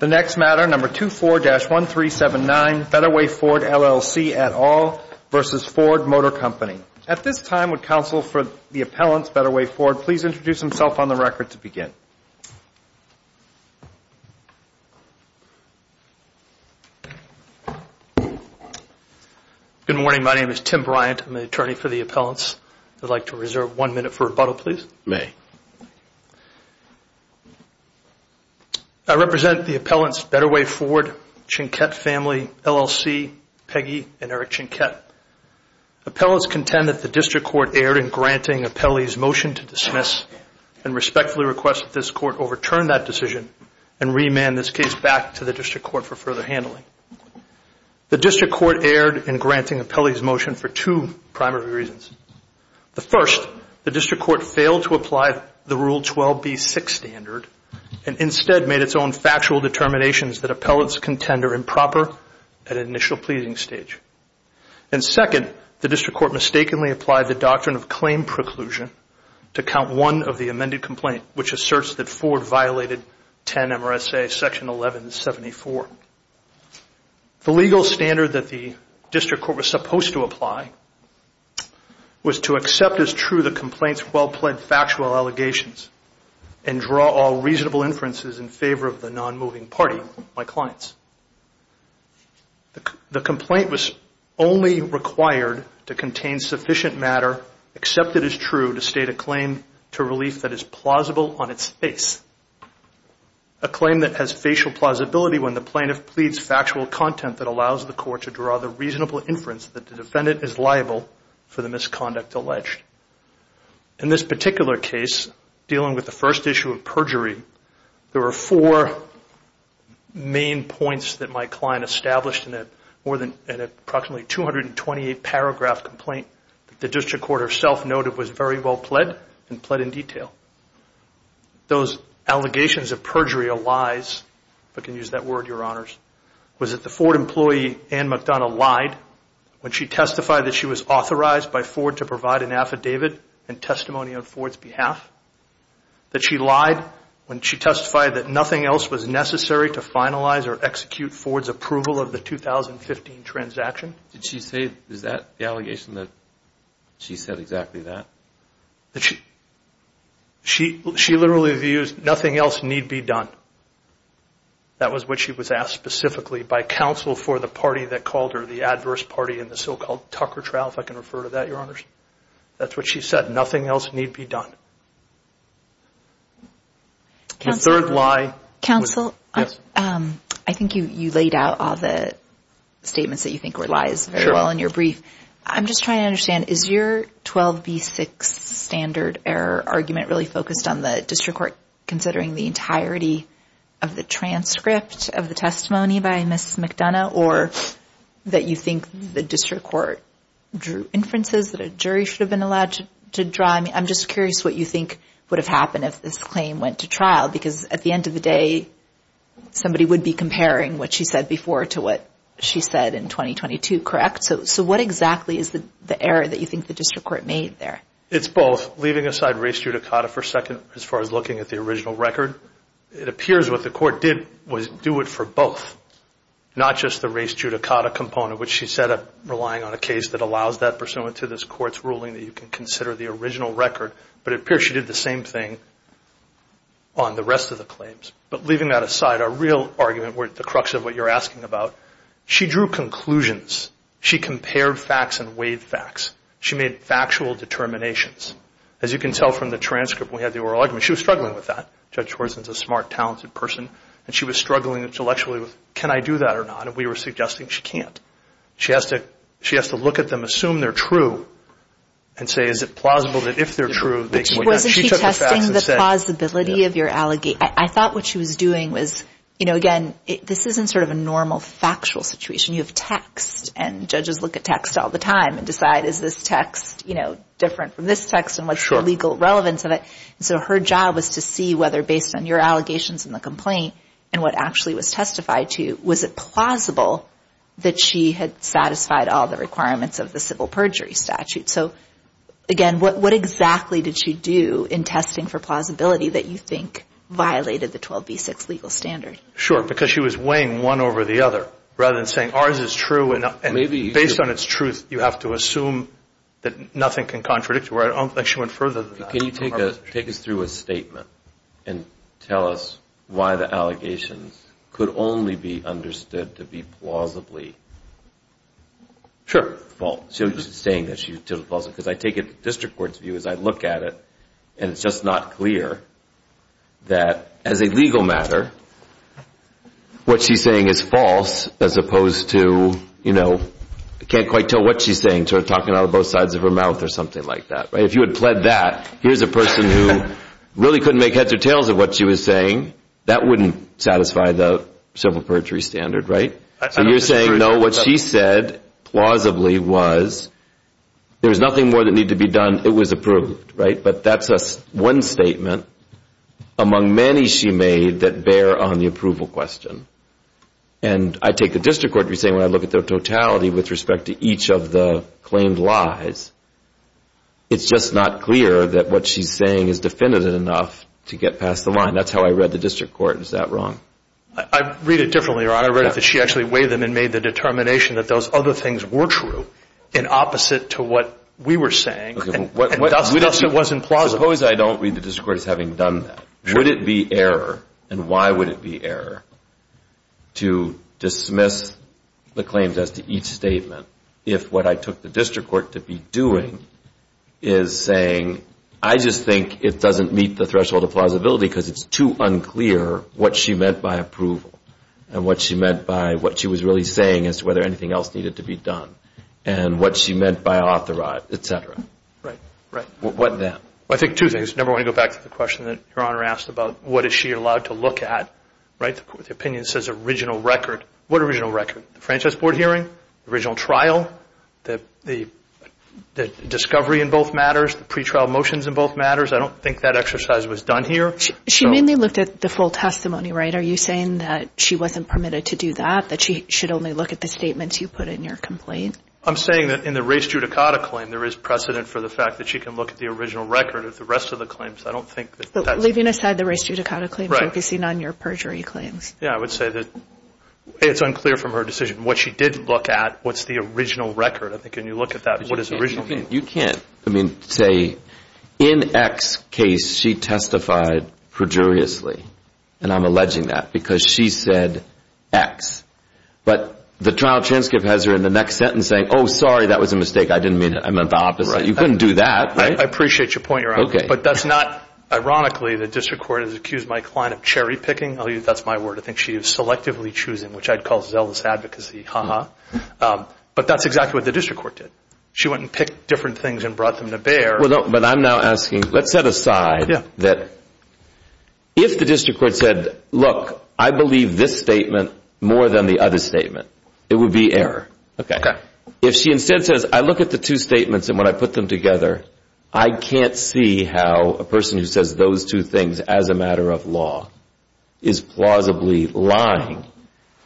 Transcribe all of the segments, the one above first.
The next matter, number 24-1379, Better Way Ford, LLC, et al. versus Ford Motor Company. At this time, would counsel for the appellants, Better Way Ford, please introduce himself on the record to begin. Good morning. My name is Tim Bryant. I'm the attorney for the appellants. I'd like to reserve one minute for rebuttal, please. May. I represent the appellants, Better Way Ford, Chinquette Family, LLC, Peggy, and Eric Chinquette. Appellants contend that the district court erred in granting appellee's motion to dismiss and respectfully request that this court overturn that decision and remand this case back to the district court for further handling. The district court erred in granting appellee's motion for two primary reasons. The first, the district court failed to apply the Rule 12b-6 standard and instead made its own factual determinations that appellants contend are improper at initial pleasing stage. And second, the district court mistakenly applied the doctrine of claim preclusion to count one of the amended complaint which asserts that Ford violated 10 MRSA Section 1174. The legal standard that the district court was supposed to apply was to accept as true the complaint's well-pled factual allegations and draw all reasonable inferences in favor of the non-moving party, my clients. The complaint was only required to contain sufficient matter accepted as true to state a claim to relief that is plausible on its face. A claim that has facial plausibility when the plaintiff pleads factual content that allows the court to draw the reasonable inference that the defendant is liable for the misconduct alleged. In this particular case, dealing with the first issue of perjury, there were four main points that my client established in an approximately 228-paragraph complaint that the district court herself noted was very well-pled and pled in detail. Those allegations of perjury or lies, if I can use that word, Your Honors, was that the Ford employee, Ann McDonough, lied when she testified that she was authorized by Ford to provide an affidavit and testimony on Ford's behalf, that she lied when she testified that nothing else was necessary to finalize or execute Ford's approval of the 2015 transaction. Did she say, is that the allegation that she said exactly that? She literally used, nothing else need be done. That was what she was asked specifically by counsel for the party that called her, the adverse party in the so-called Tucker trial, if I can refer to that, Your Honors. That's what she said, nothing else need be done. Counsel, I think you laid out all the statements that you think were lies very well in your brief. I'm just trying to understand, is your 12B6 standard error argument really focused on the district court considering the entirety of the transcript of the testimony by Mrs. McDonough or that you think the district court drew inferences that a jury should have been allowed to draw? I'm just curious what you think would have happened if this claim went to trial because at the end of the day, somebody would be comparing what she said before to what she said in 2022, correct? What exactly is the error that you think the district court made there? It's both. Leaving aside race judicata for a second as far as looking at the original record, it appears what the court did was do it for both, not just the race judicata component, which she set up relying on a case that allows that pursuant to this court's ruling that you can consider the original record. But it appears she did the same thing on the rest of the claims. But leaving that aside, our real argument, the crux of what you're asking about, she drew conclusions. She compared facts and weighed facts. She made factual determinations. As you can tell from the transcript, we have the oral argument. She was struggling with that. Judge Schwartz is a smart, talented person, and she was struggling intellectually with can I do that or not, and we were suggesting she can't. She has to look at them, assume they're true, and say is it plausible that if they're true, Wasn't she testing the plausibility of your allegation? I thought what she was doing was, you know, again, this isn't sort of a normal factual situation. You have text, and judges look at text all the time and decide is this text, you know, different from this text and what's the legal relevance of it. So her job was to see whether based on your allegations in the complaint and what actually was testified to, was it plausible that she had satisfied all the requirements of the civil perjury statute. So, again, what exactly did she do in testing for plausibility that you think violated the 12B6 legal standard? Sure, because she was weighing one over the other rather than saying ours is true, and based on its truth, you have to assume that nothing can contradict it. She went further than that. Can you take us through a statement and tell us why the allegations could only be understood to be plausibly false? She wasn't saying that she was totally plausible, because I take a district court's view as I look at it, and it's just not clear that as a legal matter, what she's saying is false as opposed to, you know, I can't quite tell what she's saying, talking out of both sides of her mouth or something like that. If you had pled that, here's a person who really couldn't make heads or tails of what she was saying, that wouldn't satisfy the civil perjury standard, right? So you're saying, no, what she said plausibly was there was nothing more that needed to be done. It was approved, right? But that's one statement among many she made that bear on the approval question. And I take the district court to be saying when I look at the totality with respect to each of the claimed lies, it's just not clear that what she's saying is definitive enough to get past the line. That's how I read the district court. Is that wrong? I read it differently, Your Honor. I read it that she actually weighed them and made the determination that those other things were true and opposite to what we were saying, and thus it wasn't plausible. Suppose I don't read the district court as having done that. Would it be error, and why would it be error, to dismiss the claims as to each statement if what I took the district court to be doing is saying, I just think it doesn't meet the threshold of plausibility because it's too unclear what she meant by approval and what she meant by what she was really saying as to whether anything else needed to be done and what she meant by authorized, et cetera. Right, right. What then? Well, I think two things. Number one, to go back to the question that Your Honor asked about what is she allowed to look at, right? The opinion says original record. What original record? The franchise board hearing, the original trial, the discovery in both matters, the pretrial motions in both matters. I don't think that exercise was done here. She mainly looked at the full testimony, right? Are you saying that she wasn't permitted to do that, that she should only look at the statements you put in your complaint? I'm saying that in the race judicata claim, there is precedent for the fact that she can look at the original record of the rest of the claims. I don't think that that's... Leaving aside the race judicata claim, focusing on your perjury claims. Yeah, I would say that it's unclear from her decision what she did look at, what's the original record. I think when you look at that, what does original mean? You can't, I mean, say in X case she testified perjuriously, and I'm alleging that because she said X. But the trial transcript has her in the next sentence saying, oh, sorry, that was a mistake. I didn't mean it. I meant the opposite. You couldn't do that, right? I appreciate your point, Your Honor. Okay. But that's not, ironically, the district court has accused my client of cherry picking. That's my word. I think she is selectively choosing, which I'd call zealous advocacy. Ha ha. But that's exactly what the district court did. She went and picked different things and brought them to bear. But I'm now asking, let's set aside that if the district court said, look, I believe this statement more than the other statement, it would be error. Okay. If she instead says, I look at the two statements and when I put them together, I can't see how a person who says those two things as a matter of law is plausibly lying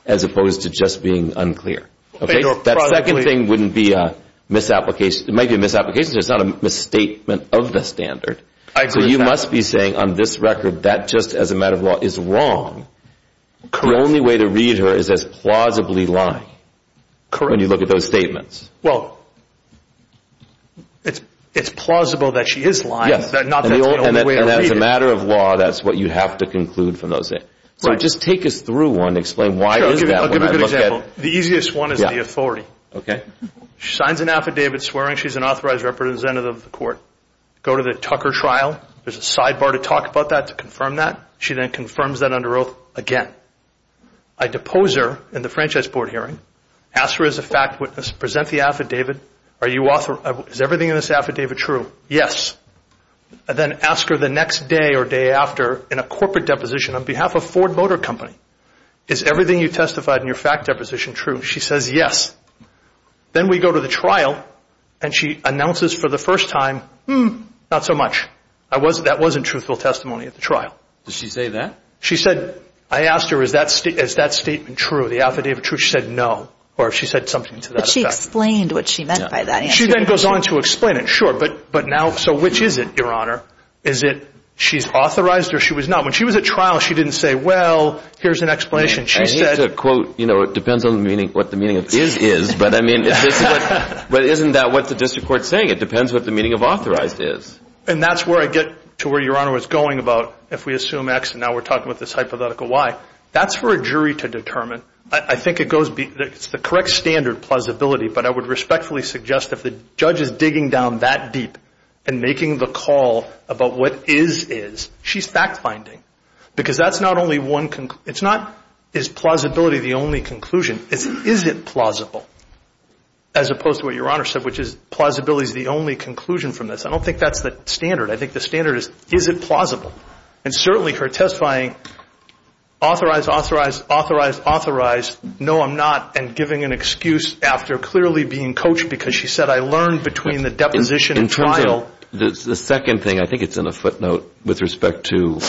as opposed to just being unclear. That second thing wouldn't be a misapplication. It might be a misapplication. It's not a misstatement of the standard. I agree with that. So you must be saying on this record that just as a matter of law is wrong. The only way to read her is as plausibly lying. Correct. When you look at those statements. Well, it's plausible that she is lying. Not that's the only way to read it. And as a matter of law, that's what you have to conclude from those things. Right. So just take us through one. Explain why is that when I look at it. I'll give you a good example. The easiest one is the authority. Okay. She signs an affidavit swearing she's an authorized representative of the court. Go to the Tucker trial. There's a sidebar to talk about that, to confirm that. She then confirms that under oath again. I depose her in the franchise board hearing. Ask her as a fact witness, present the affidavit. Is everything in this affidavit true? Yes. Then ask her the next day or day after in a corporate deposition on behalf of Ford Motor Company. Is everything you testified in your fact deposition true? She says yes. Then we go to the trial, and she announces for the first time, not so much. That wasn't truthful testimony at the trial. Did she say that? She said, I asked her, is that statement true, the affidavit true? She said no. Or she said something to that effect. But she explained what she meant by that. She then goes on to explain it. But now, so which is it, Your Honor? Is it she's authorized or she was not? When she was at trial, she didn't say, well, here's an explanation. I hate to quote, you know, it depends on what the meaning of is is. But, I mean, isn't that what the district court's saying? It depends what the meaning of authorized is. And that's where I get to where Your Honor was going about if we assume X, and now we're talking about this hypothetical Y. That's for a jury to determine. I think it's the correct standard, plausibility. But I would respectfully suggest if the judge is digging down that deep and making the call about what is is, she's fact finding. Because that's not only one, it's not is plausibility the only conclusion, it's is it plausible, as opposed to what Your Honor said, which is plausibility is the only conclusion from this. I don't think that's the standard. I think the standard is is it plausible? And certainly her testifying authorized, authorized, authorized, authorized, no, I'm not, and giving an excuse after clearly being coached because she said, I learned between the deposition and trial. The second thing, I think it's in a footnote with respect to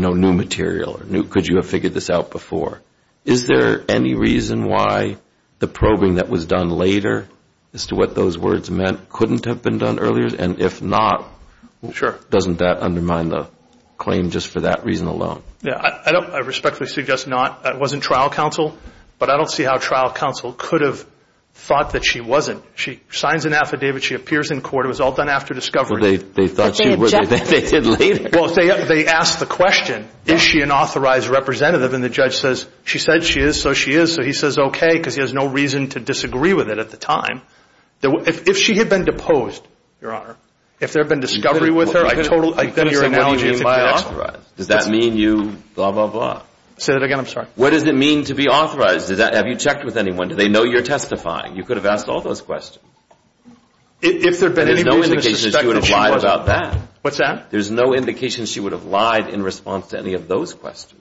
new material. Could you have figured this out before? Is there any reason why the probing that was done later as to what those words meant couldn't have been done earlier? And if not, doesn't that undermine the claim just for that reason alone? I respectfully suggest not. That wasn't trial counsel. But I don't see how trial counsel could have thought that she wasn't. She signs an affidavit. She appears in court. It was all done after discovery. But they objected. Well, they asked the question, is she an authorized representative? And the judge says, she said she is, so she is. So he says, okay, because he has no reason to disagree with it at the time. If she had been deposed, Your Honor, if there had been discovery with her, I totally agree with your analogy. Does that mean you blah, blah, blah? Say that again. I'm sorry. What does it mean to be authorized? Have you checked with anyone? Do they know you're testifying? You could have asked all those questions. If there had been any reason to suspect that she was. There's no indication she would have lied about that. What's that? There's no indication she would have lied in response to any of those questions.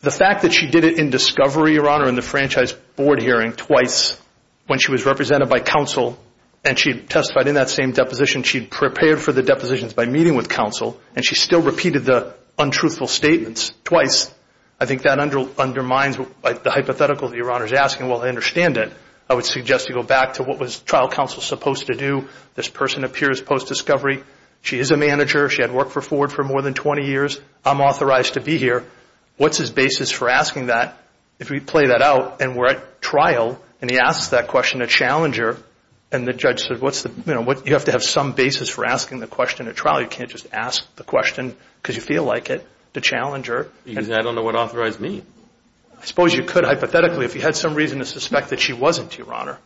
The fact that she did it in discovery, Your Honor, in the franchise board hearing twice when she was represented by counsel and she testified in that same deposition, she had prepared for the depositions by meeting with counsel and she still repeated the untruthful statements twice, I think that undermines the hypothetical that Your Honor is asking. Well, I understand it. I would suggest you go back to what was trial counsel supposed to do. This person appears post-discovery. She is a manager. She had worked for Ford for more than 20 years. I'm authorized to be here. What's his basis for asking that? If we play that out and we're at trial and he asks that question to Challenger and the judge said, you have to have some basis for asking the question at trial. You can't just ask the question because you feel like it to Challenger. I don't know what authorized means. I suppose you could hypothetically. If you had some reason to suspect that she wasn't, Your Honor.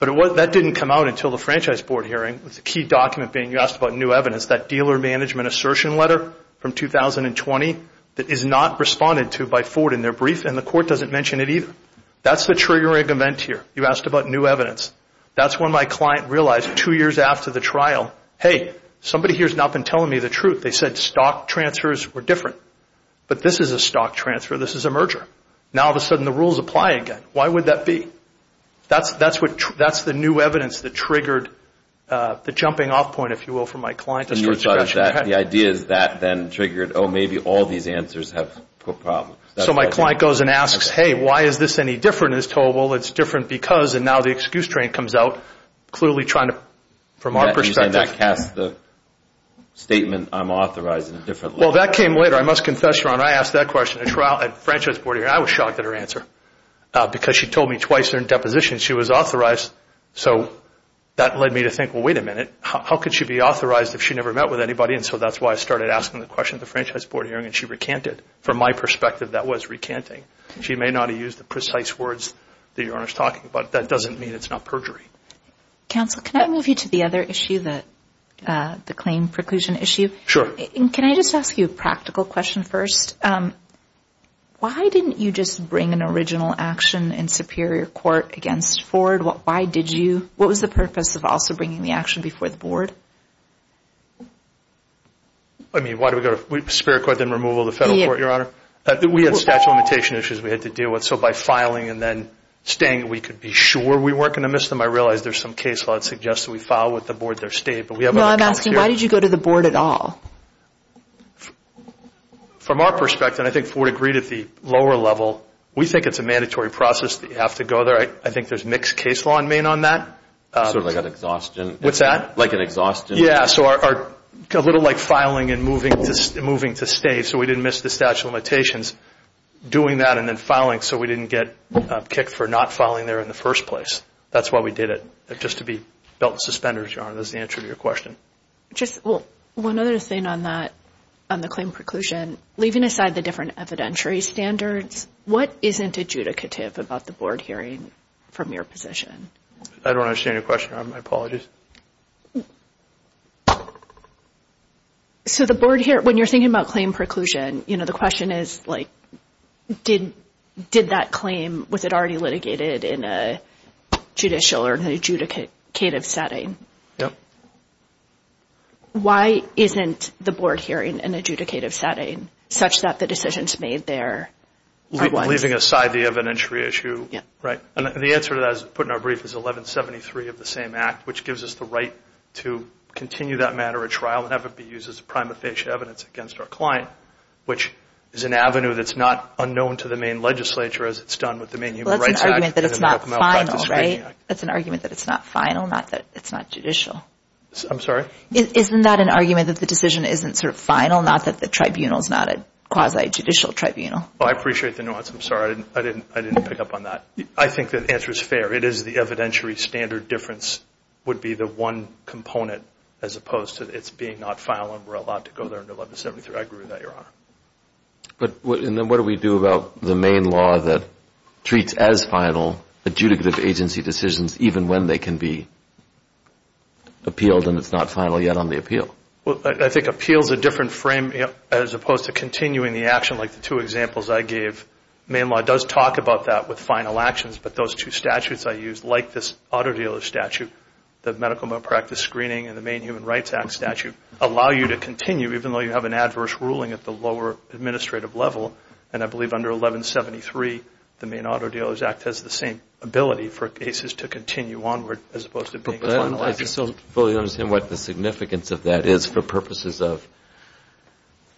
But that didn't come out until the franchise board hearing with the key document being you asked about new evidence, that dealer management assertion letter from 2020 that is not responded to by Ford in their brief and the court doesn't mention it either. That's the triggering event here. You asked about new evidence. That's when my client realized two years after the trial, hey, somebody here has not been telling me the truth. They said stock transfers were different. But this is a stock transfer. This is a merger. Now all of a sudden the rules apply again. Why would that be? That's the new evidence that triggered the jumping off point, if you will, for my client. The idea is that then triggered, oh, maybe all these answers have problems. So my client goes and asks, hey, why is this any different? It's told, well, it's different because, and now the excuse train comes out, clearly trying to, from our perspective. You're saying that casts the statement I'm authorizing differently. Well, that came later. I must confess, Your Honor, I asked that question at trial at the Franchise Board hearing. I was shocked at her answer because she told me twice during deposition she was authorized. So that led me to think, well, wait a minute. How could she be authorized if she never met with anybody? So that's why I started asking the question at the Franchise Board hearing and she recanted. From my perspective, that was recanting. She may not have used the precise words that Your Honor is talking about. That doesn't mean it's not perjury. Counsel, can I move you to the other issue, the claim preclusion issue? Sure. Can I just ask you a practical question first? Why didn't you just bring an original action in superior court against Ford? Why did you? What was the purpose of also bringing the action before the board? I mean, why do we go to superior court, then removal of the federal court, Your Honor? We had statute of limitations issues we had to deal with. So by filing and then staying, we could be sure we weren't going to miss them. I realize there's some case law that suggests that we file with the board their state, but we have other costs here. No, I'm asking, why did you go to the board at all? From our perspective, and I think Ford agreed at the lower level, we think it's a mandatory process that you have to go there. I think there's mixed case law in Maine on that. Sort of like an exhaustion. What's that? Like an exhaustion. Yeah, so a little like filing and moving to stay, so we didn't miss the statute of limitations. Doing that and then filing so we didn't get kicked for not filing there in the first place. That's why we did it, just to be belt and suspenders, Your Honor. That's the answer to your question. One other thing on that, on the claim preclusion, leaving aside the different evidentiary standards, what isn't adjudicative about the board hearing from your position? I don't understand your question, Your Honor. My apologies. So the board hearing, when you're thinking about claim preclusion, the question is did that claim, was it already litigated in a judicial or adjudicative setting? Yep. Why isn't the board hearing in an adjudicative setting, such that the decisions made there are wise? Leaving aside the evidentiary issue. Yep. Right. And the answer to that, as put in our brief, is 1173 of the same act, which gives us the right to continue that matter at trial and have it be used as prima facie evidence against our client, which is an avenue that's not unknown to the Maine legislature, as it's done with the Maine Human Rights Act. Well, that's an argument that it's not final, right? That's an argument that it's not final, not that it's not judicial. I'm sorry? Isn't that an argument that the decision isn't sort of final, not that the tribunal is not a quasi-judicial tribunal? I appreciate the nuance. I'm sorry. I didn't pick up on that. I think the answer is fair. It is the evidentiary standard difference would be the one component, as opposed to it being not final and we're allowed to go there under 1173. I agree with that, Your Honor. And then what do we do about the Maine law that treats as final adjudicative agency decisions even when they can be appealed and it's not final yet on the appeal? Well, I think appeal is a different frame, as opposed to continuing the action like the two examples I gave. Maine law does talk about that with final actions, but those two statutes I used, like this auto dealer statute, the medical malpractice screening and the Maine Human Rights Act statute allow you to continue, even though you have an adverse ruling at the lower administrative level, and I believe under 1173 the Maine Auto Dealers Act has the same ability for cases to continue onward as opposed to being a final action. I still don't fully understand what the significance of that is for purposes of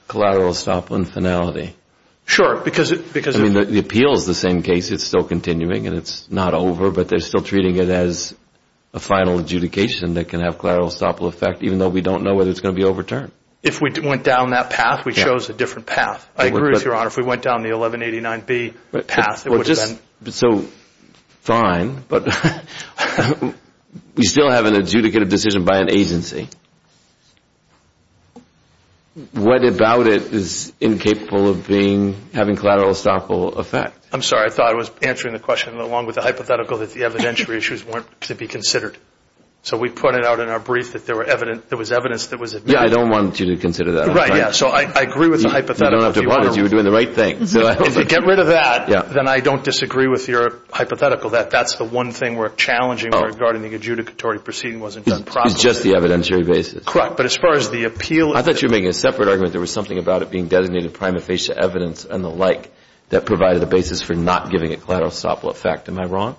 collateral estoppel and finality. Sure. I mean, the appeal is the same case. It's still continuing and it's not over, but they're still treating it as a final adjudication that can have collateral estoppel effect, even though we don't know whether it's going to be overturned. If we went down that path, we chose a different path. I agree with Your Honor. If we went down the 1189B path, it would have been... So, fine, but we still have an adjudicative decision by an agency. What about it is incapable of having collateral estoppel effect? I'm sorry. I thought I was answering the question along with the hypothetical that the evidentiary issues weren't to be considered. So we put it out in our brief that there was evidence that was admitted. Yeah, I don't want you to consider that. Right, yeah. So I agree with the hypothetical. You don't have to apologize. You were doing the right thing. If you get rid of that, then I don't disagree with your hypothetical that that's the one thing we're challenging regarding the adjudicatory proceeding wasn't done properly. It's just the evidentiary basis. Correct. But as far as the appeal... I thought you were making a separate argument. There was something about it being designated prima facie evidence and the like that provided the basis for not giving it collateral estoppel effect. Am I wrong?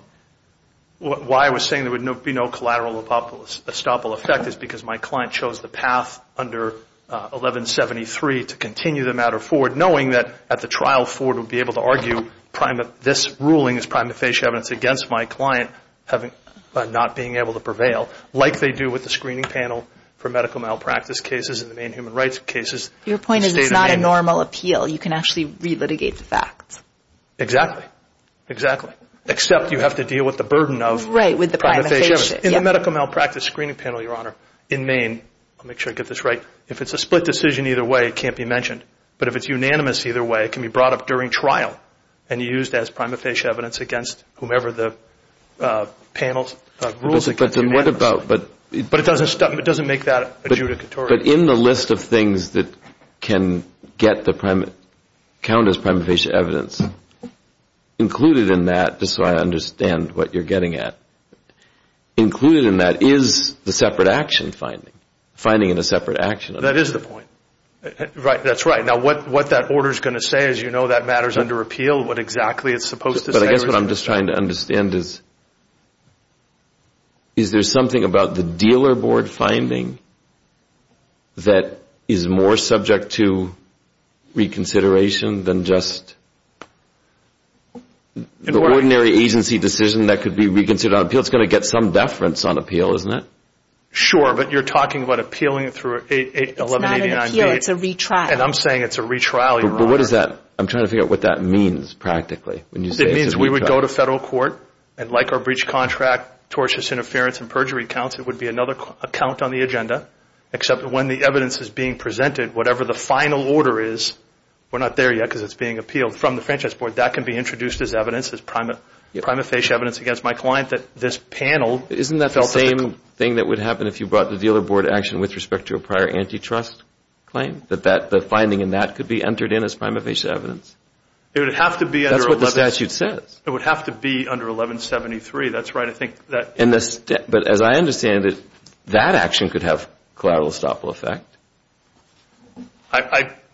Why I was saying there would be no collateral estoppel effect is because my client chose the path under 1173 to continue the matter forward knowing that at the trial, Ford would be able to argue this ruling is prima facie evidence against my client by not being able to prevail, like they do with the screening panel for medical malpractice cases and the main human rights cases. Your point is it's not a normal appeal. You can actually relitigate the facts. Exactly. Exactly. Except you have to deal with the burden of prima facie evidence. In the medical malpractice screening panel, Your Honor, in Maine, I'll make sure I get this right, if it's a split decision either way, it can't be mentioned. But if it's unanimous either way, it can be brought up during trial and used as prima facie evidence against whomever the panel rules against. But then what about... But it doesn't make that adjudicatory. But in the list of things that can count as prima facie evidence, included in that, just so I understand what you're getting at, included in that is the separate action finding, finding in a separate action. That is the point. That's right. Now, what that order is going to say, as you know, that matters under appeal, what exactly it's supposed to say. But I guess what I'm just trying to understand is, is there something about the dealer board finding that is more subject to reconsideration than just the ordinary agency decision that could be reconsidered on appeal? It's going to get some deference on appeal, isn't it? Sure, but you're talking about appealing it through 1189B. It's not an appeal, it's a retrial. And I'm saying it's a retrial, Your Honor. But what is that? I'm trying to figure out what that means, practically, when you say it's a retrial. It means we would go to federal court, and like our breach contract, tortious interference, and perjury counts, it would be another count on the agenda, except when the evidence is being presented, whatever the final order is, we're not there yet because it's being appealed from the Franchise Board, that can be introduced as evidence, as prima facie evidence against my client, that this panel felt the same. Isn't that the same thing that would happen if you brought the dealer board action with respect to a prior antitrust claim, that the finding in that could be entered in as prima facie evidence? It would have to be under 1173. That's what the statute says. It would have to be under 1173. That's right. But as I understand it, that action could have collateral estoppel effect.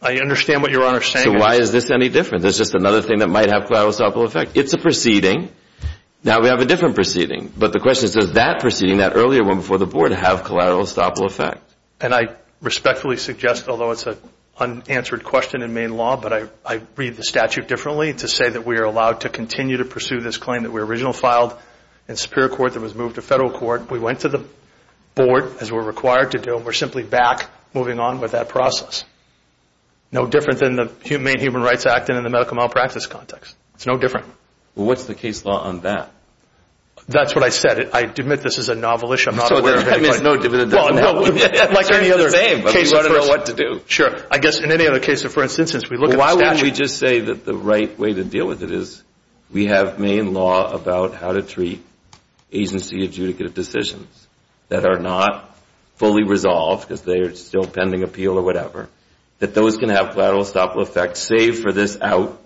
I understand what Your Honor is saying. So why is this any different? There's just another thing that might have collateral estoppel effect. It's a proceeding. Now we have a different proceeding. But the question is, does that proceeding, that earlier one before the board, have collateral estoppel effect? And I respectfully suggest, although it's an unanswered question in Maine law, but I read the statute differently, to say that we are allowed to continue to pursue this claim that we originally filed in Superior Court that was moved to Federal Court. We went to the board, as we're required to do, and we're simply back moving on with that process. No different than the Maine Human Rights Act and in the medical malpractice context. It's no different. Well, what's the case law on that? That's what I said. I admit this is a novel issue. I'm not aware of anybody. So there's no division on that one. It's the same, but we want to know what to do. Sure. I guess in any other case, for instance, since we look at the statute. Why wouldn't we just say that the right way to deal with it is we have Maine law about how to treat agency adjudicative decisions that are not fully resolved, because they are still pending appeal or whatever, that those can have collateral stop-loss effects, save for this out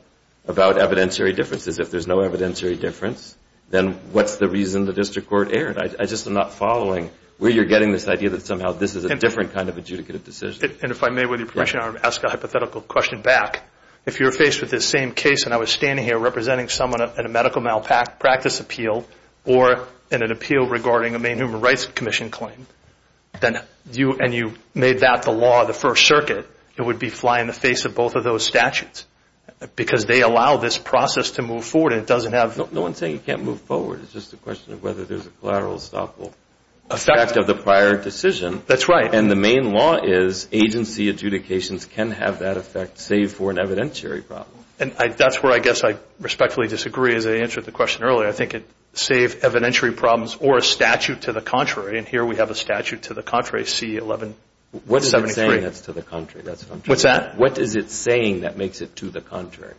about evidentiary differences. If there's no evidentiary difference, then what's the reason the district court erred? I just am not following where you're getting this idea that somehow this is a different kind of adjudicative decision. And if I may, with your permission, I want to ask a hypothetical question back. If you're faced with this same case, and I was standing here representing someone in a medical malpractice appeal or in an appeal regarding a Maine Human Rights Commission claim, and you made that the law of the First Circuit, it would be flying in the face of both of those statutes, because they allow this process to move forward. No one's saying you can't move forward. It's just a question of whether there's a collateral stop-loss effect of the prior decision. That's right. And the Maine law is agency adjudications can have that effect, save for an evidentiary problem. And that's where I guess I respectfully disagree, as I answered the question earlier. I think it saves evidentiary problems or a statute to the contrary. And here we have a statute to the contrary, C-1173. What is it saying that's to the contrary? What's that? What is it saying that makes it to the contrary?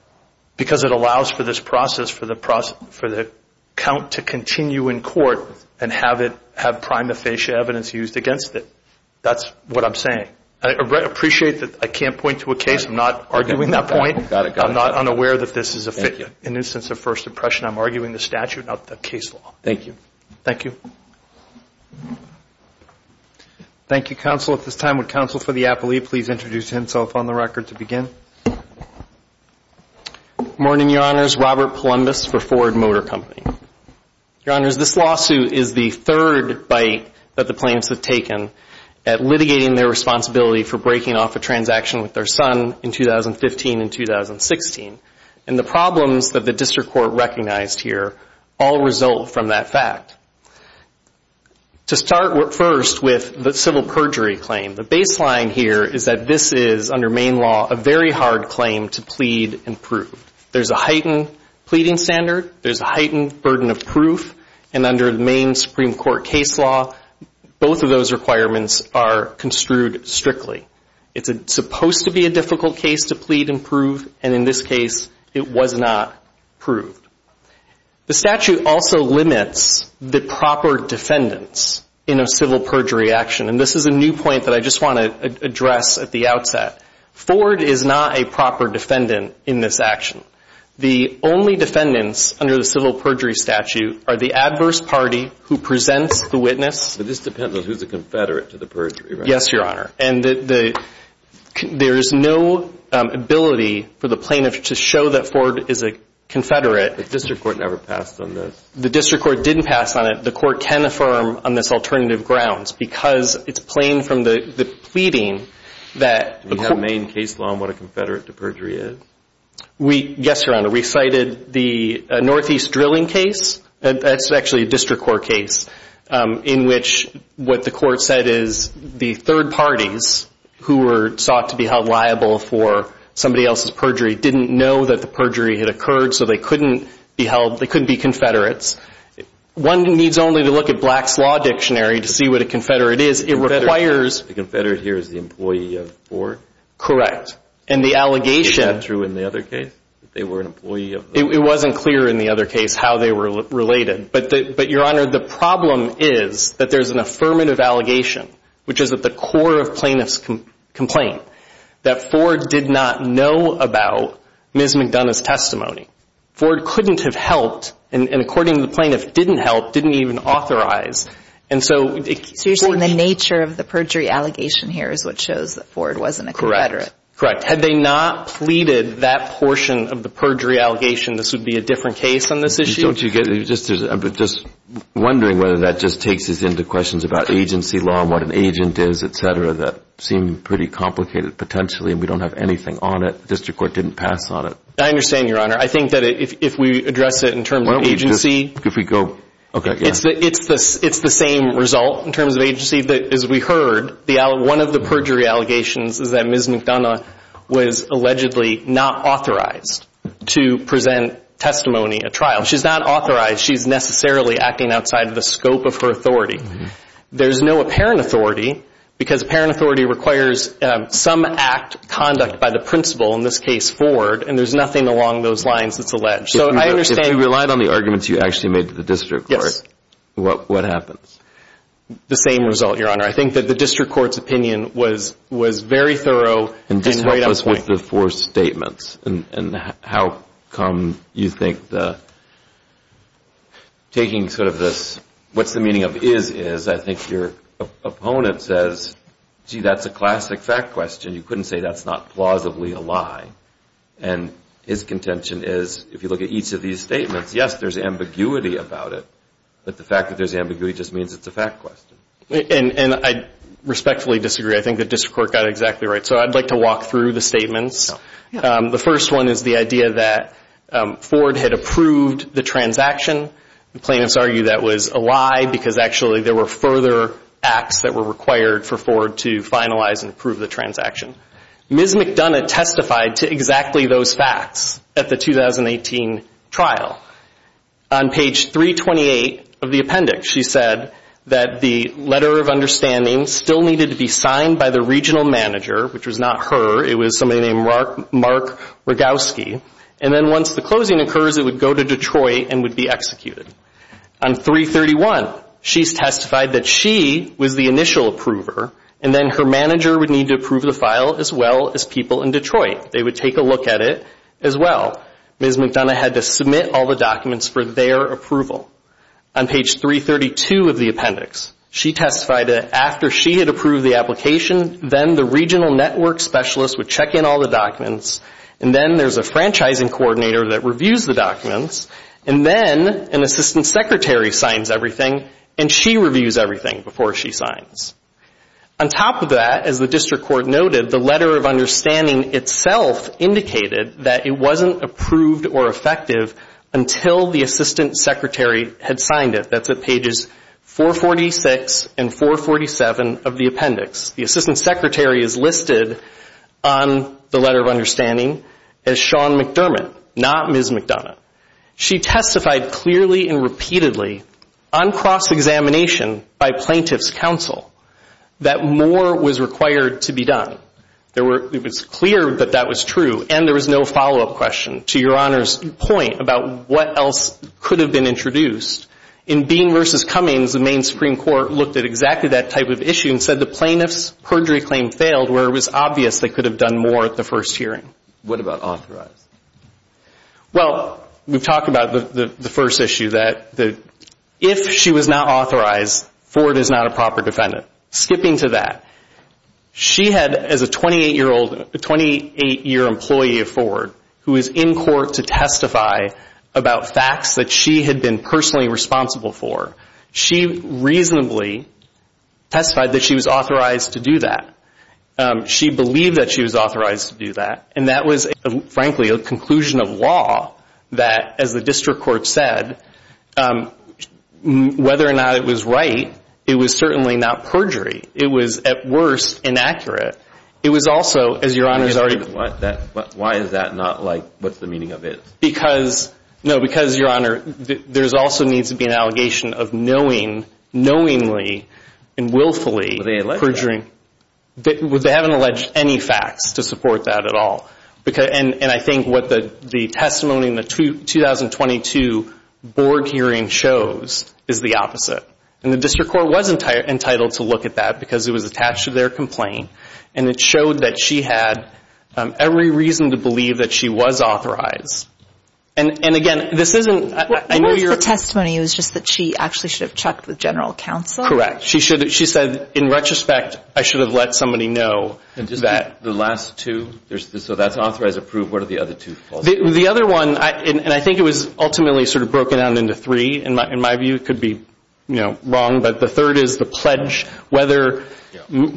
Because it allows for this process for the count to continue in court and have prima facie evidence used against it. That's what I'm saying. I appreciate that I can't point to a case. I'm not arguing that point. I'm not unaware that this is a figure. In the instance of first impression, I'm arguing the statute, not the case law. Thank you. Thank you. Thank you, counsel. At this time, would counsel for the appellee please introduce himself on the record to begin? Good morning, Your Honors. Robert Palumbis for Ford Motor Company. Your Honors, this lawsuit is the third bite that the plaintiffs have taken at litigating their responsibility for breaking off a transaction with their son in 2015 and 2016. And the problems that the district court recognized here all result from that fact. To start first with the civil perjury claim, the baseline here is that this is, under Maine law, a very hard claim to plead and prove. There's a heightened pleading standard. There's a heightened burden of proof. And under Maine Supreme Court case law, both of those requirements are construed strictly. It's supposed to be a difficult case to plead and prove, and in this case, it was not proved. The statute also limits the proper defendants in a civil perjury action. And this is a new point that I just want to address at the outset. Ford is not a proper defendant in this action. The only defendants under the civil perjury statute are the adverse party who presents the witness. But this depends on who's a confederate to the perjury, right? Yes, Your Honor. And there is no ability for the plaintiff to show that Ford is a confederate. The district court never passed on this. The district court didn't pass on it. The court can affirm on this alternative grounds because it's plain from the pleading that- Do you have Maine case law on what a confederate to perjury is? Yes, Your Honor. We cited the Northeast drilling case. That's actually a district court case in which what the court said is the third parties who were sought to be held liable for somebody else's perjury didn't know that the perjury had occurred, so they couldn't be held. They couldn't be confederates. One needs only to look at Black's Law Dictionary to see what a confederate is. It requires- The confederate here is the employee of Ford? Correct. And the allegation- Did it come through in the other case that they were an employee of Ford? It wasn't clear in the other case how they were related. But, Your Honor, the problem is that there's an affirmative allegation, which is at the core of plaintiff's complaint, that Ford did not know about Ms. McDonough's testimony. Ford couldn't have helped, and according to the plaintiff, didn't help, didn't even authorize. So you're saying the nature of the perjury allegation here is what shows that Ford wasn't a confederate? Correct. Had they not pleaded that portion of the perjury allegation, this would be a different case on this issue? Don't you get it? I'm just wondering whether that just takes us into questions about agency law and what an agent is, et cetera, that seem pretty complicated potentially, and we don't have anything on it. The district court didn't pass on it. I understand, Your Honor. I think that if we address it in terms of agency- Why don't we just- if we go- okay. It's the same result in terms of agency. One of the perjury allegations is that Ms. McDonough was allegedly not authorized to present testimony at trial. She's not authorized. She's necessarily acting outside of the scope of her authority. There's no apparent authority because apparent authority requires some act, conduct by the principal, in this case Ford, and there's nothing along those lines that's alleged. So I understand- If you relied on the arguments you actually made to the district court, what happens? The same result, Your Honor. I think that the district court's opinion was very thorough and right on point. Just help us with the four statements, and how come you think the- taking sort of this what's the meaning of is is, I think your opponent says, gee, that's a classic fact question. You couldn't say that's not plausibly a lie, and his contention is if you look at each of these statements, yes, there's ambiguity about it, but the fact that there's ambiguity just means it's a fact question. And I respectfully disagree. I think the district court got it exactly right. So I'd like to walk through the statements. The first one is the idea that Ford had approved the transaction. The plaintiffs argue that was a lie because actually there were further acts that were required for Ford to finalize and approve the transaction. Ms. McDonough testified to exactly those facts at the 2018 trial. On page 328 of the appendix, she said that the letter of understanding still needed to be signed by the regional manager, which was not her. It was somebody named Mark Rogowski. And then once the closing occurs, it would go to Detroit and would be executed. On 331, she testified that she was the initial approver, and then her manager would need to approve the file as well as people in Detroit. They would take a look at it as well. Ms. McDonough had to submit all the documents for their approval. On page 332 of the appendix, she testified that after she had approved the application, then the regional network specialist would check in all the documents, and then there's a franchising coordinator that reviews the documents, and then an assistant secretary signs everything, and she reviews everything before she signs. On top of that, as the district court noted, the letter of understanding itself indicated that it wasn't approved or effective until the assistant secretary had signed it. That's at pages 446 and 447 of the appendix. The assistant secretary is listed on the letter of understanding as Sean McDermott, not Ms. McDonough. She testified clearly and repeatedly on cross-examination by plaintiff's counsel that more was required to be done. It was clear that that was true, and there was no follow-up question to Your Honor's point about what else could have been introduced. In Bean v. Cummings, the main Supreme Court looked at exactly that type of issue and said the plaintiff's perjury claim failed where it was obvious they could have done more at the first hearing. What about authorized? Well, we've talked about the first issue that if she was not authorized, Ford is not a proper defendant. Skipping to that, she had, as a 28-year-old, a 28-year-old employee of Ford who was in court to testify about facts that she had been personally responsible for, she reasonably testified that she was authorized to do that. She believed that she was authorized to do that, and that was, frankly, a conclusion of law that, as the district court said, whether or not it was right, it was certainly not perjury. It was, at worst, inaccurate. It was also, as Your Honor has already... Why is that not like what's the meaning of it? Because, no, because, Your Honor, there also needs to be an allegation of knowingly and willfully perjuring. They haven't alleged any facts to support that at all. And I think what the testimony in the 2022 board hearing shows is the opposite. And the district court was entitled to look at that because it was attached to their complaint, and it showed that she had every reason to believe that she was authorized. And, again, this isn't... What was the testimony? It was just that she actually should have checked with general counsel? Correct. She said, in retrospect, I should have let somebody know that... The last two? So that's authorized, approved. What are the other two? The other one, and I think it was ultimately sort of broken down into three. In my view, it could be wrong, but the third is the pledge, whether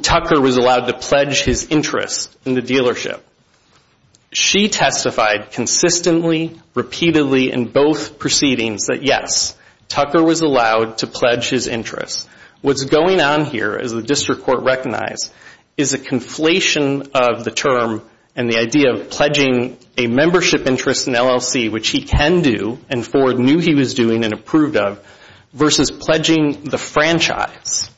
Tucker was allowed to pledge his interest in the dealership. She testified consistently, repeatedly, in both proceedings, that, yes, Tucker was allowed to pledge his interest. What's going on here, as the district court recognized, is a conflation of the term and the idea of pledging a membership interest in LLC, which he can do and Ford knew he was doing and approved of, versus pledging the franchise.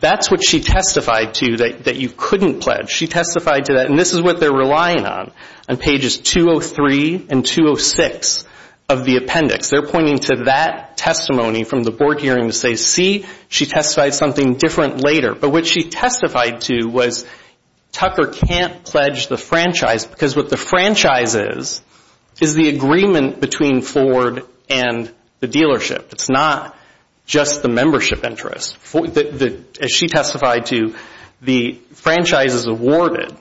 That's what she testified to, that you couldn't pledge. She testified to that, and this is what they're relying on, on pages 203 and 206 of the appendix. They're pointing to that testimony from the board hearing to say, see, she testified something different later. But what she testified to was Tucker can't pledge the franchise because what the franchise is is the agreement between Ford and the dealership. It's not just the membership interest. As she testified to, the franchise is awarded.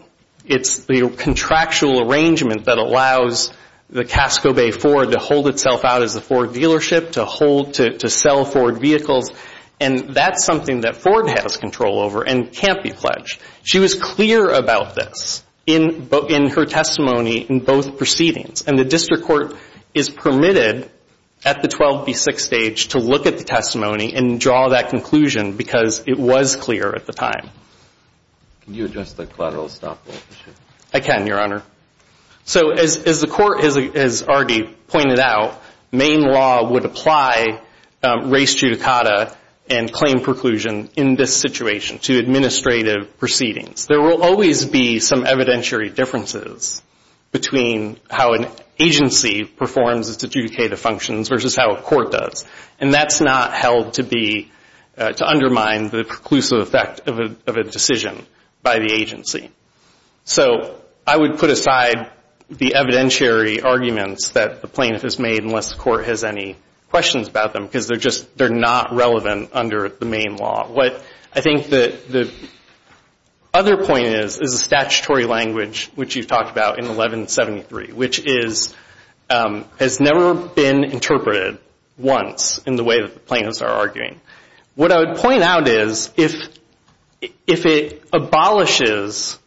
It's the contractual arrangement that allows the Casco Bay Ford to hold itself out as a Ford dealership, to sell Ford vehicles, and that's something that Ford has control over and can't be pledged. She was clear about this in her testimony in both proceedings, and the district court is permitted at the 12B6 stage to look at the testimony and draw that conclusion because it was clear at the time. Can you address the collateral stop? I can, Your Honor. So as the court has already pointed out, main law would apply race judicata and claim preclusion in this situation to administrative proceedings. There will always be some evidentiary differences between how an agency performs to adjudicate the functions versus how a court does, and that's not held to undermine the preclusive effect of a decision by the agency. So I would put aside the evidentiary arguments that the plaintiff has made unless the court has any questions about them because they're just not relevant under the main law. What I think the other point is is a statutory language, which you've talked about in 1173, which has never been interpreted once in the way that the plaintiffs are arguing. What I would point out is if it abolishes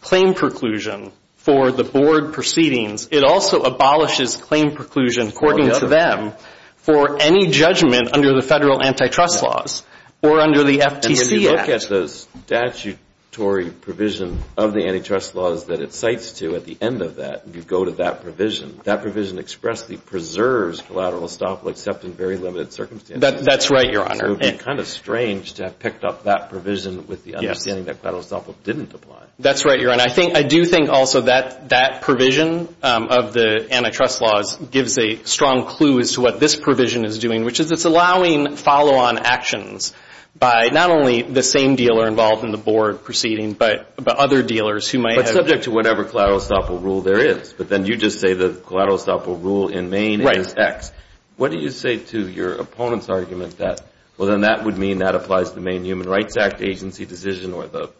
claim preclusion for the board proceedings, it also abolishes claim preclusion, according to them, for any judgment under the federal antitrust laws or under the FTC Act. And when you look at the statutory provision of the antitrust laws that it cites to at the end of that, if you go to that provision, that provision expressly preserves collateral stop except in very limited circumstances. That's right, Your Honor. So it would be kind of strange to have picked up that provision with the understanding that collateral stop didn't apply. That's right, Your Honor. I do think also that that provision of the antitrust laws gives a strong clue as to what this provision is doing, which is it's allowing follow-on actions by not only the same dealer involved in the board proceeding but other dealers who might have been. But subject to whatever collateral stop rule there is. But then you just say the collateral stop rule in Maine is X. What do you say to your opponent's argument that, well, then that would mean that applies to the Maine Human Rights Act agency decision or the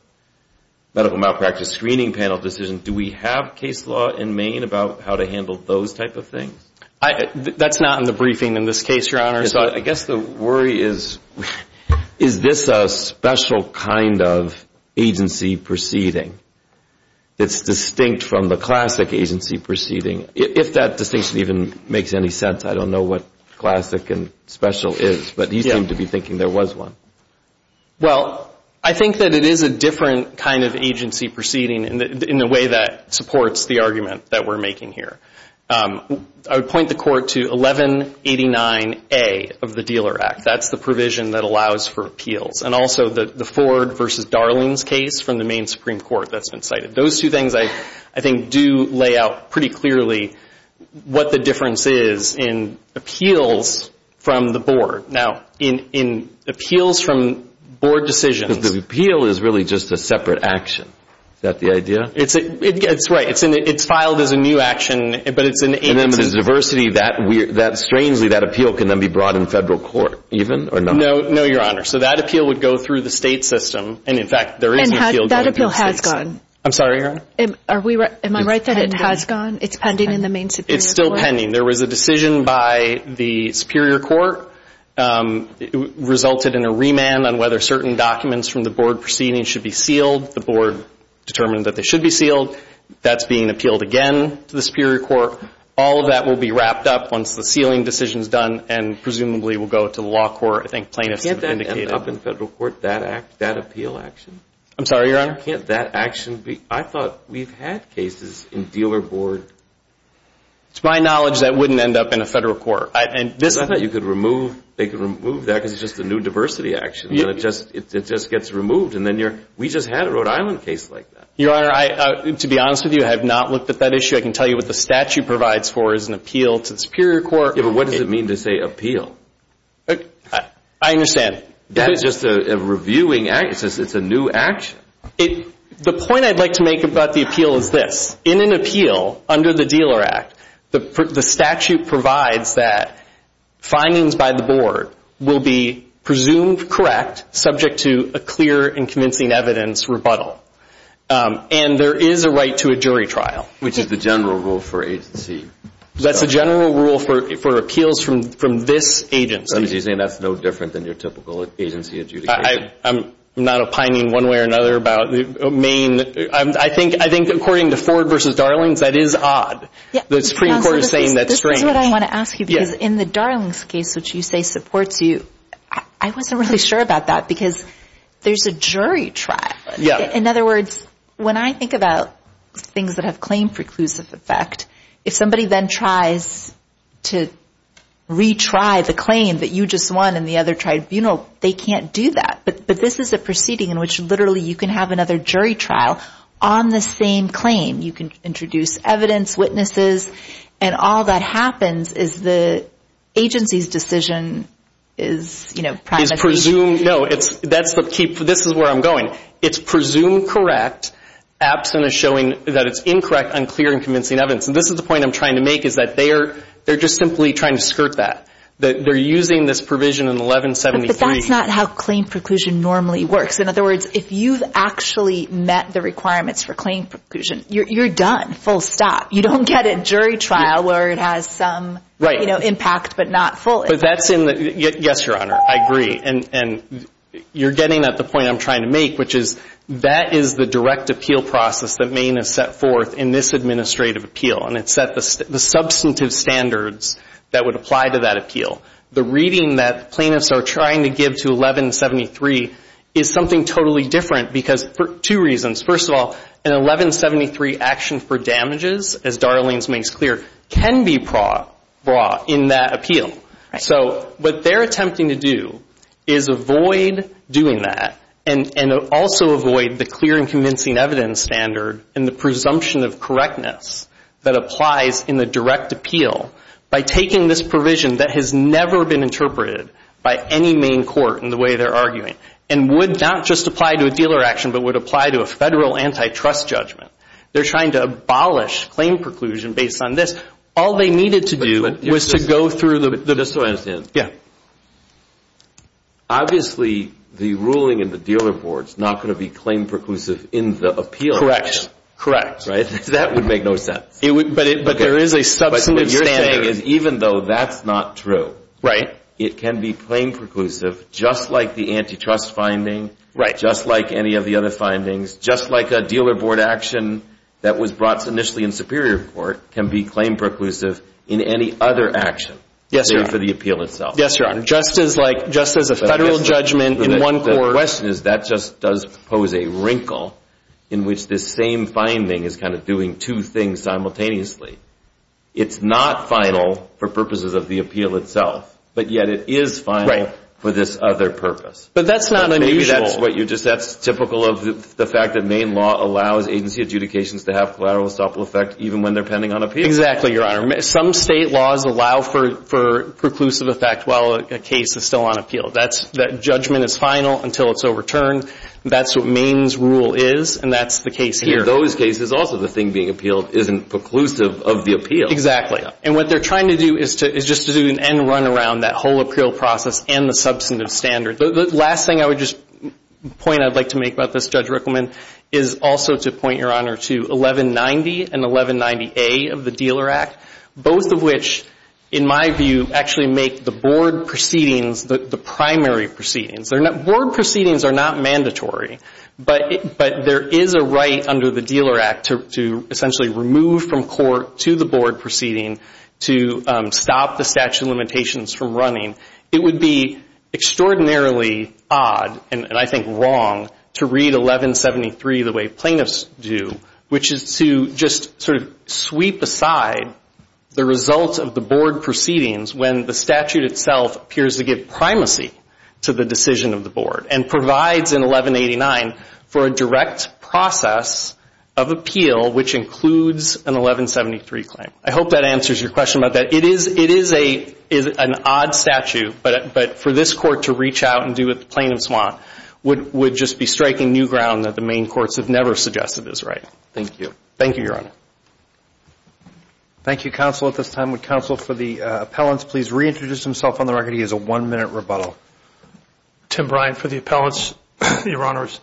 medical malpractice screening panel decision? Do we have case law in Maine about how to handle those type of things? That's not in the briefing in this case, Your Honor. So I guess the worry is, is this a special kind of agency proceeding that's distinct from the classic agency proceeding? If that distinction even makes any sense. I don't know what classic and special is. But he seemed to be thinking there was one. Well, I think that it is a different kind of agency proceeding in the way that supports the argument that we're making here. I would point the Court to 1189A of the Dealer Act. That's the provision that allows for appeals. And also the Ford v. Darling's case from the Maine Supreme Court that's been cited. Those two things, I think, do lay out pretty clearly what the difference is in appeals from the board. Now, in appeals from board decisions. Because the appeal is really just a separate action. Is that the idea? That's right. It's filed as a new action, but it's an agency. And then there's diversity. Strangely, that appeal can then be brought in federal court, even, or not? No, Your Honor. So that appeal would go through the state system. And, in fact, there is an appeal going through the state system. I'm sorry, Your Honor? Am I right that it has gone? It's pending in the Maine Superior Court? It's still pending. There was a decision by the Superior Court. It resulted in a remand on whether certain documents from the board proceeding should be sealed. The board determined that they should be sealed. That's being appealed again to the Superior Court. All of that will be wrapped up once the sealing decision is done and presumably will go to the law court, I think plaintiffs have indicated. Can't that end up in federal court, that appeal action? I'm sorry, Your Honor? Why can't that action be? I thought we've had cases in dealer board. To my knowledge, that wouldn't end up in a federal court. I thought you could remove that because it's just a new diversity action. It just gets removed, and then you're, we just had a Rhode Island case like that. Your Honor, to be honest with you, I have not looked at that issue. I can tell you what the statute provides for is an appeal to the Superior Court. Yeah, but what does it mean to say appeal? I understand. That's just a reviewing action. It's a new action. The point I'd like to make about the appeal is this. In an appeal under the Dealer Act, the statute provides that findings by the board will be presumed correct, subject to a clear and convincing evidence rebuttal, and there is a right to a jury trial. Which is the general rule for agency. That's the general rule for appeals from this agency. So you're saying that's no different than your typical agency adjudication? I'm not opining one way or another about the main. I think according to Ford v. Darlings, that is odd. The Supreme Court is saying that's strange. This is what I want to ask you because in the Darlings case, which you say supports you, I wasn't really sure about that because there's a jury trial. In other words, when I think about things that have claim preclusive effect, if somebody then tries to retry the claim that you just won and the other tried, you know, they can't do that. But this is a proceeding in which literally you can have another jury trial on the same claim. You can introduce evidence, witnesses, and all that happens is the agency's decision is, you know, It's presumed, no, this is where I'm going. It's presumed correct, absent of showing that it's incorrect, unclear, and convincing evidence. And this is the point I'm trying to make is that they're just simply trying to skirt that. They're using this provision in 1173. But that's not how claim preclusion normally works. In other words, if you've actually met the requirements for claim preclusion, you're done, full stop. You don't get a jury trial where it has some impact but not full. Yes, Your Honor, I agree. And you're getting at the point I'm trying to make, which is that is the direct appeal process that Maine has set forth in this administrative appeal. And it set the substantive standards that would apply to that appeal. The reading that plaintiffs are trying to give to 1173 is something totally different because two reasons. First of all, an 1173 action for damages, as Darlene's makes clear, can be brought in that appeal. So what they're attempting to do is avoid doing that and also avoid the clear and convincing evidence standard and the presumption of correctness that applies in the direct appeal by taking this provision that has never been interpreted by any Maine court in the way they're arguing and would not just apply to a dealer action but would apply to a federal antitrust judgment. They're trying to abolish claim preclusion based on this. All they needed to do was to go through the- Just so I understand. Yes. Obviously, the ruling in the dealer board is not going to be claim preclusive in the appeal. Correct. Right? That would make no sense. But there is a substantive standard. But what you're saying is even though that's not true, it can be claim preclusive just like the antitrust finding, just like any of the other findings, just like a dealer board action that was brought initially in Superior Court can be claim preclusive in any other action for the appeal itself. Yes, Your Honor. Just as a federal judgment in one court- The question is that just does pose a wrinkle in which this same finding is kind of doing two things simultaneously. It's not final for purposes of the appeal itself, but yet it is final for this other purpose. But that's not unusual. Maybe that's what you're just- Exactly, Your Honor. Some state laws allow for preclusive effect while a case is still on appeal. That judgment is final until it's overturned. That's what Maine's rule is, and that's the case here. In those cases, also the thing being appealed isn't preclusive of the appeal. Exactly. And what they're trying to do is just to do an end run around that whole appeal process and the substantive standard. The last thing I would just point I'd like to make about this, Judge Rickleman, is also to point, Your Honor, to 1190 and 1190A of the Dealer Act, both of which, in my view, actually make the board proceedings the primary proceedings. Board proceedings are not mandatory, but there is a right under the Dealer Act to essentially remove from court to the board proceeding to stop the statute of limitations from running. It would be extraordinarily odd, and I think wrong, to read 1173 the way plaintiffs do, which is to just sort of sweep aside the results of the board proceedings when the statute itself appears to give primacy to the decision of the board and provides in 1189 for a direct process of appeal which includes an 1173 claim. I hope that answers your question about that. It is an odd statute, but for this court to reach out and do what the plaintiffs want would just be striking new ground that the main courts have never suggested is right. Thank you. Thank you, Your Honor. Thank you, Counsel. At this time, would Counsel for the appellants please reintroduce himself on the record? He has a one-minute rebuttal. Tim Bryant for the appellants, Your Honors.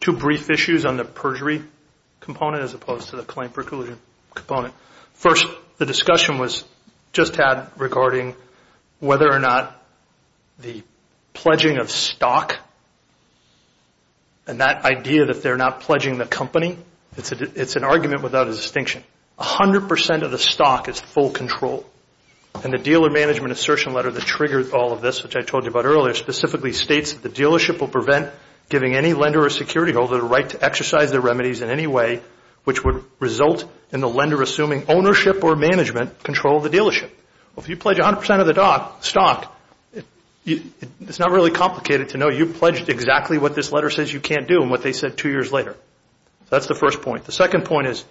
Two brief issues on the perjury component as opposed to the claim preclusion component. First, the discussion was just had regarding whether or not the pledging of stock and that idea that they're not pledging the company, it's an argument without a distinction. A hundred percent of the stock is full control, and the dealer management assertion letter that triggered all of this, which I told you about earlier, specifically states that the dealership will prevent giving any lender or security holder the right to exercise their remedies in any way which would result in the lender assuming ownership or management control of the dealership. Well, if you pledge a hundred percent of the stock, it's not really complicated to know. You pledged exactly what this letter says you can't do and what they said two years later. That's the first point. The second point is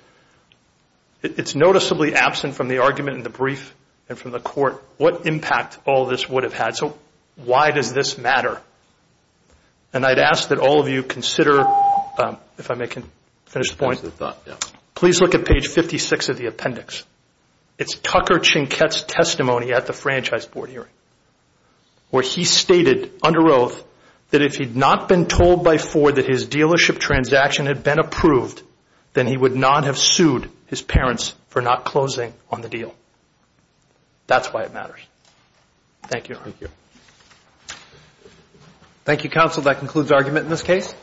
it's noticeably absent from the argument in the brief and from the court. What impact all this would have had? So why does this matter? And I'd ask that all of you consider, if I may finish the point, please look at page 56 of the appendix. It's Tucker Chinquette's testimony at the franchise board hearing where he stated under oath that if he'd not been told by Ford that his dealership transaction had been approved, then he would not have sued his parents for not closing on the deal. That's why it matters. Thank you, Your Honor. Thank you, counsel. That concludes argument in this case.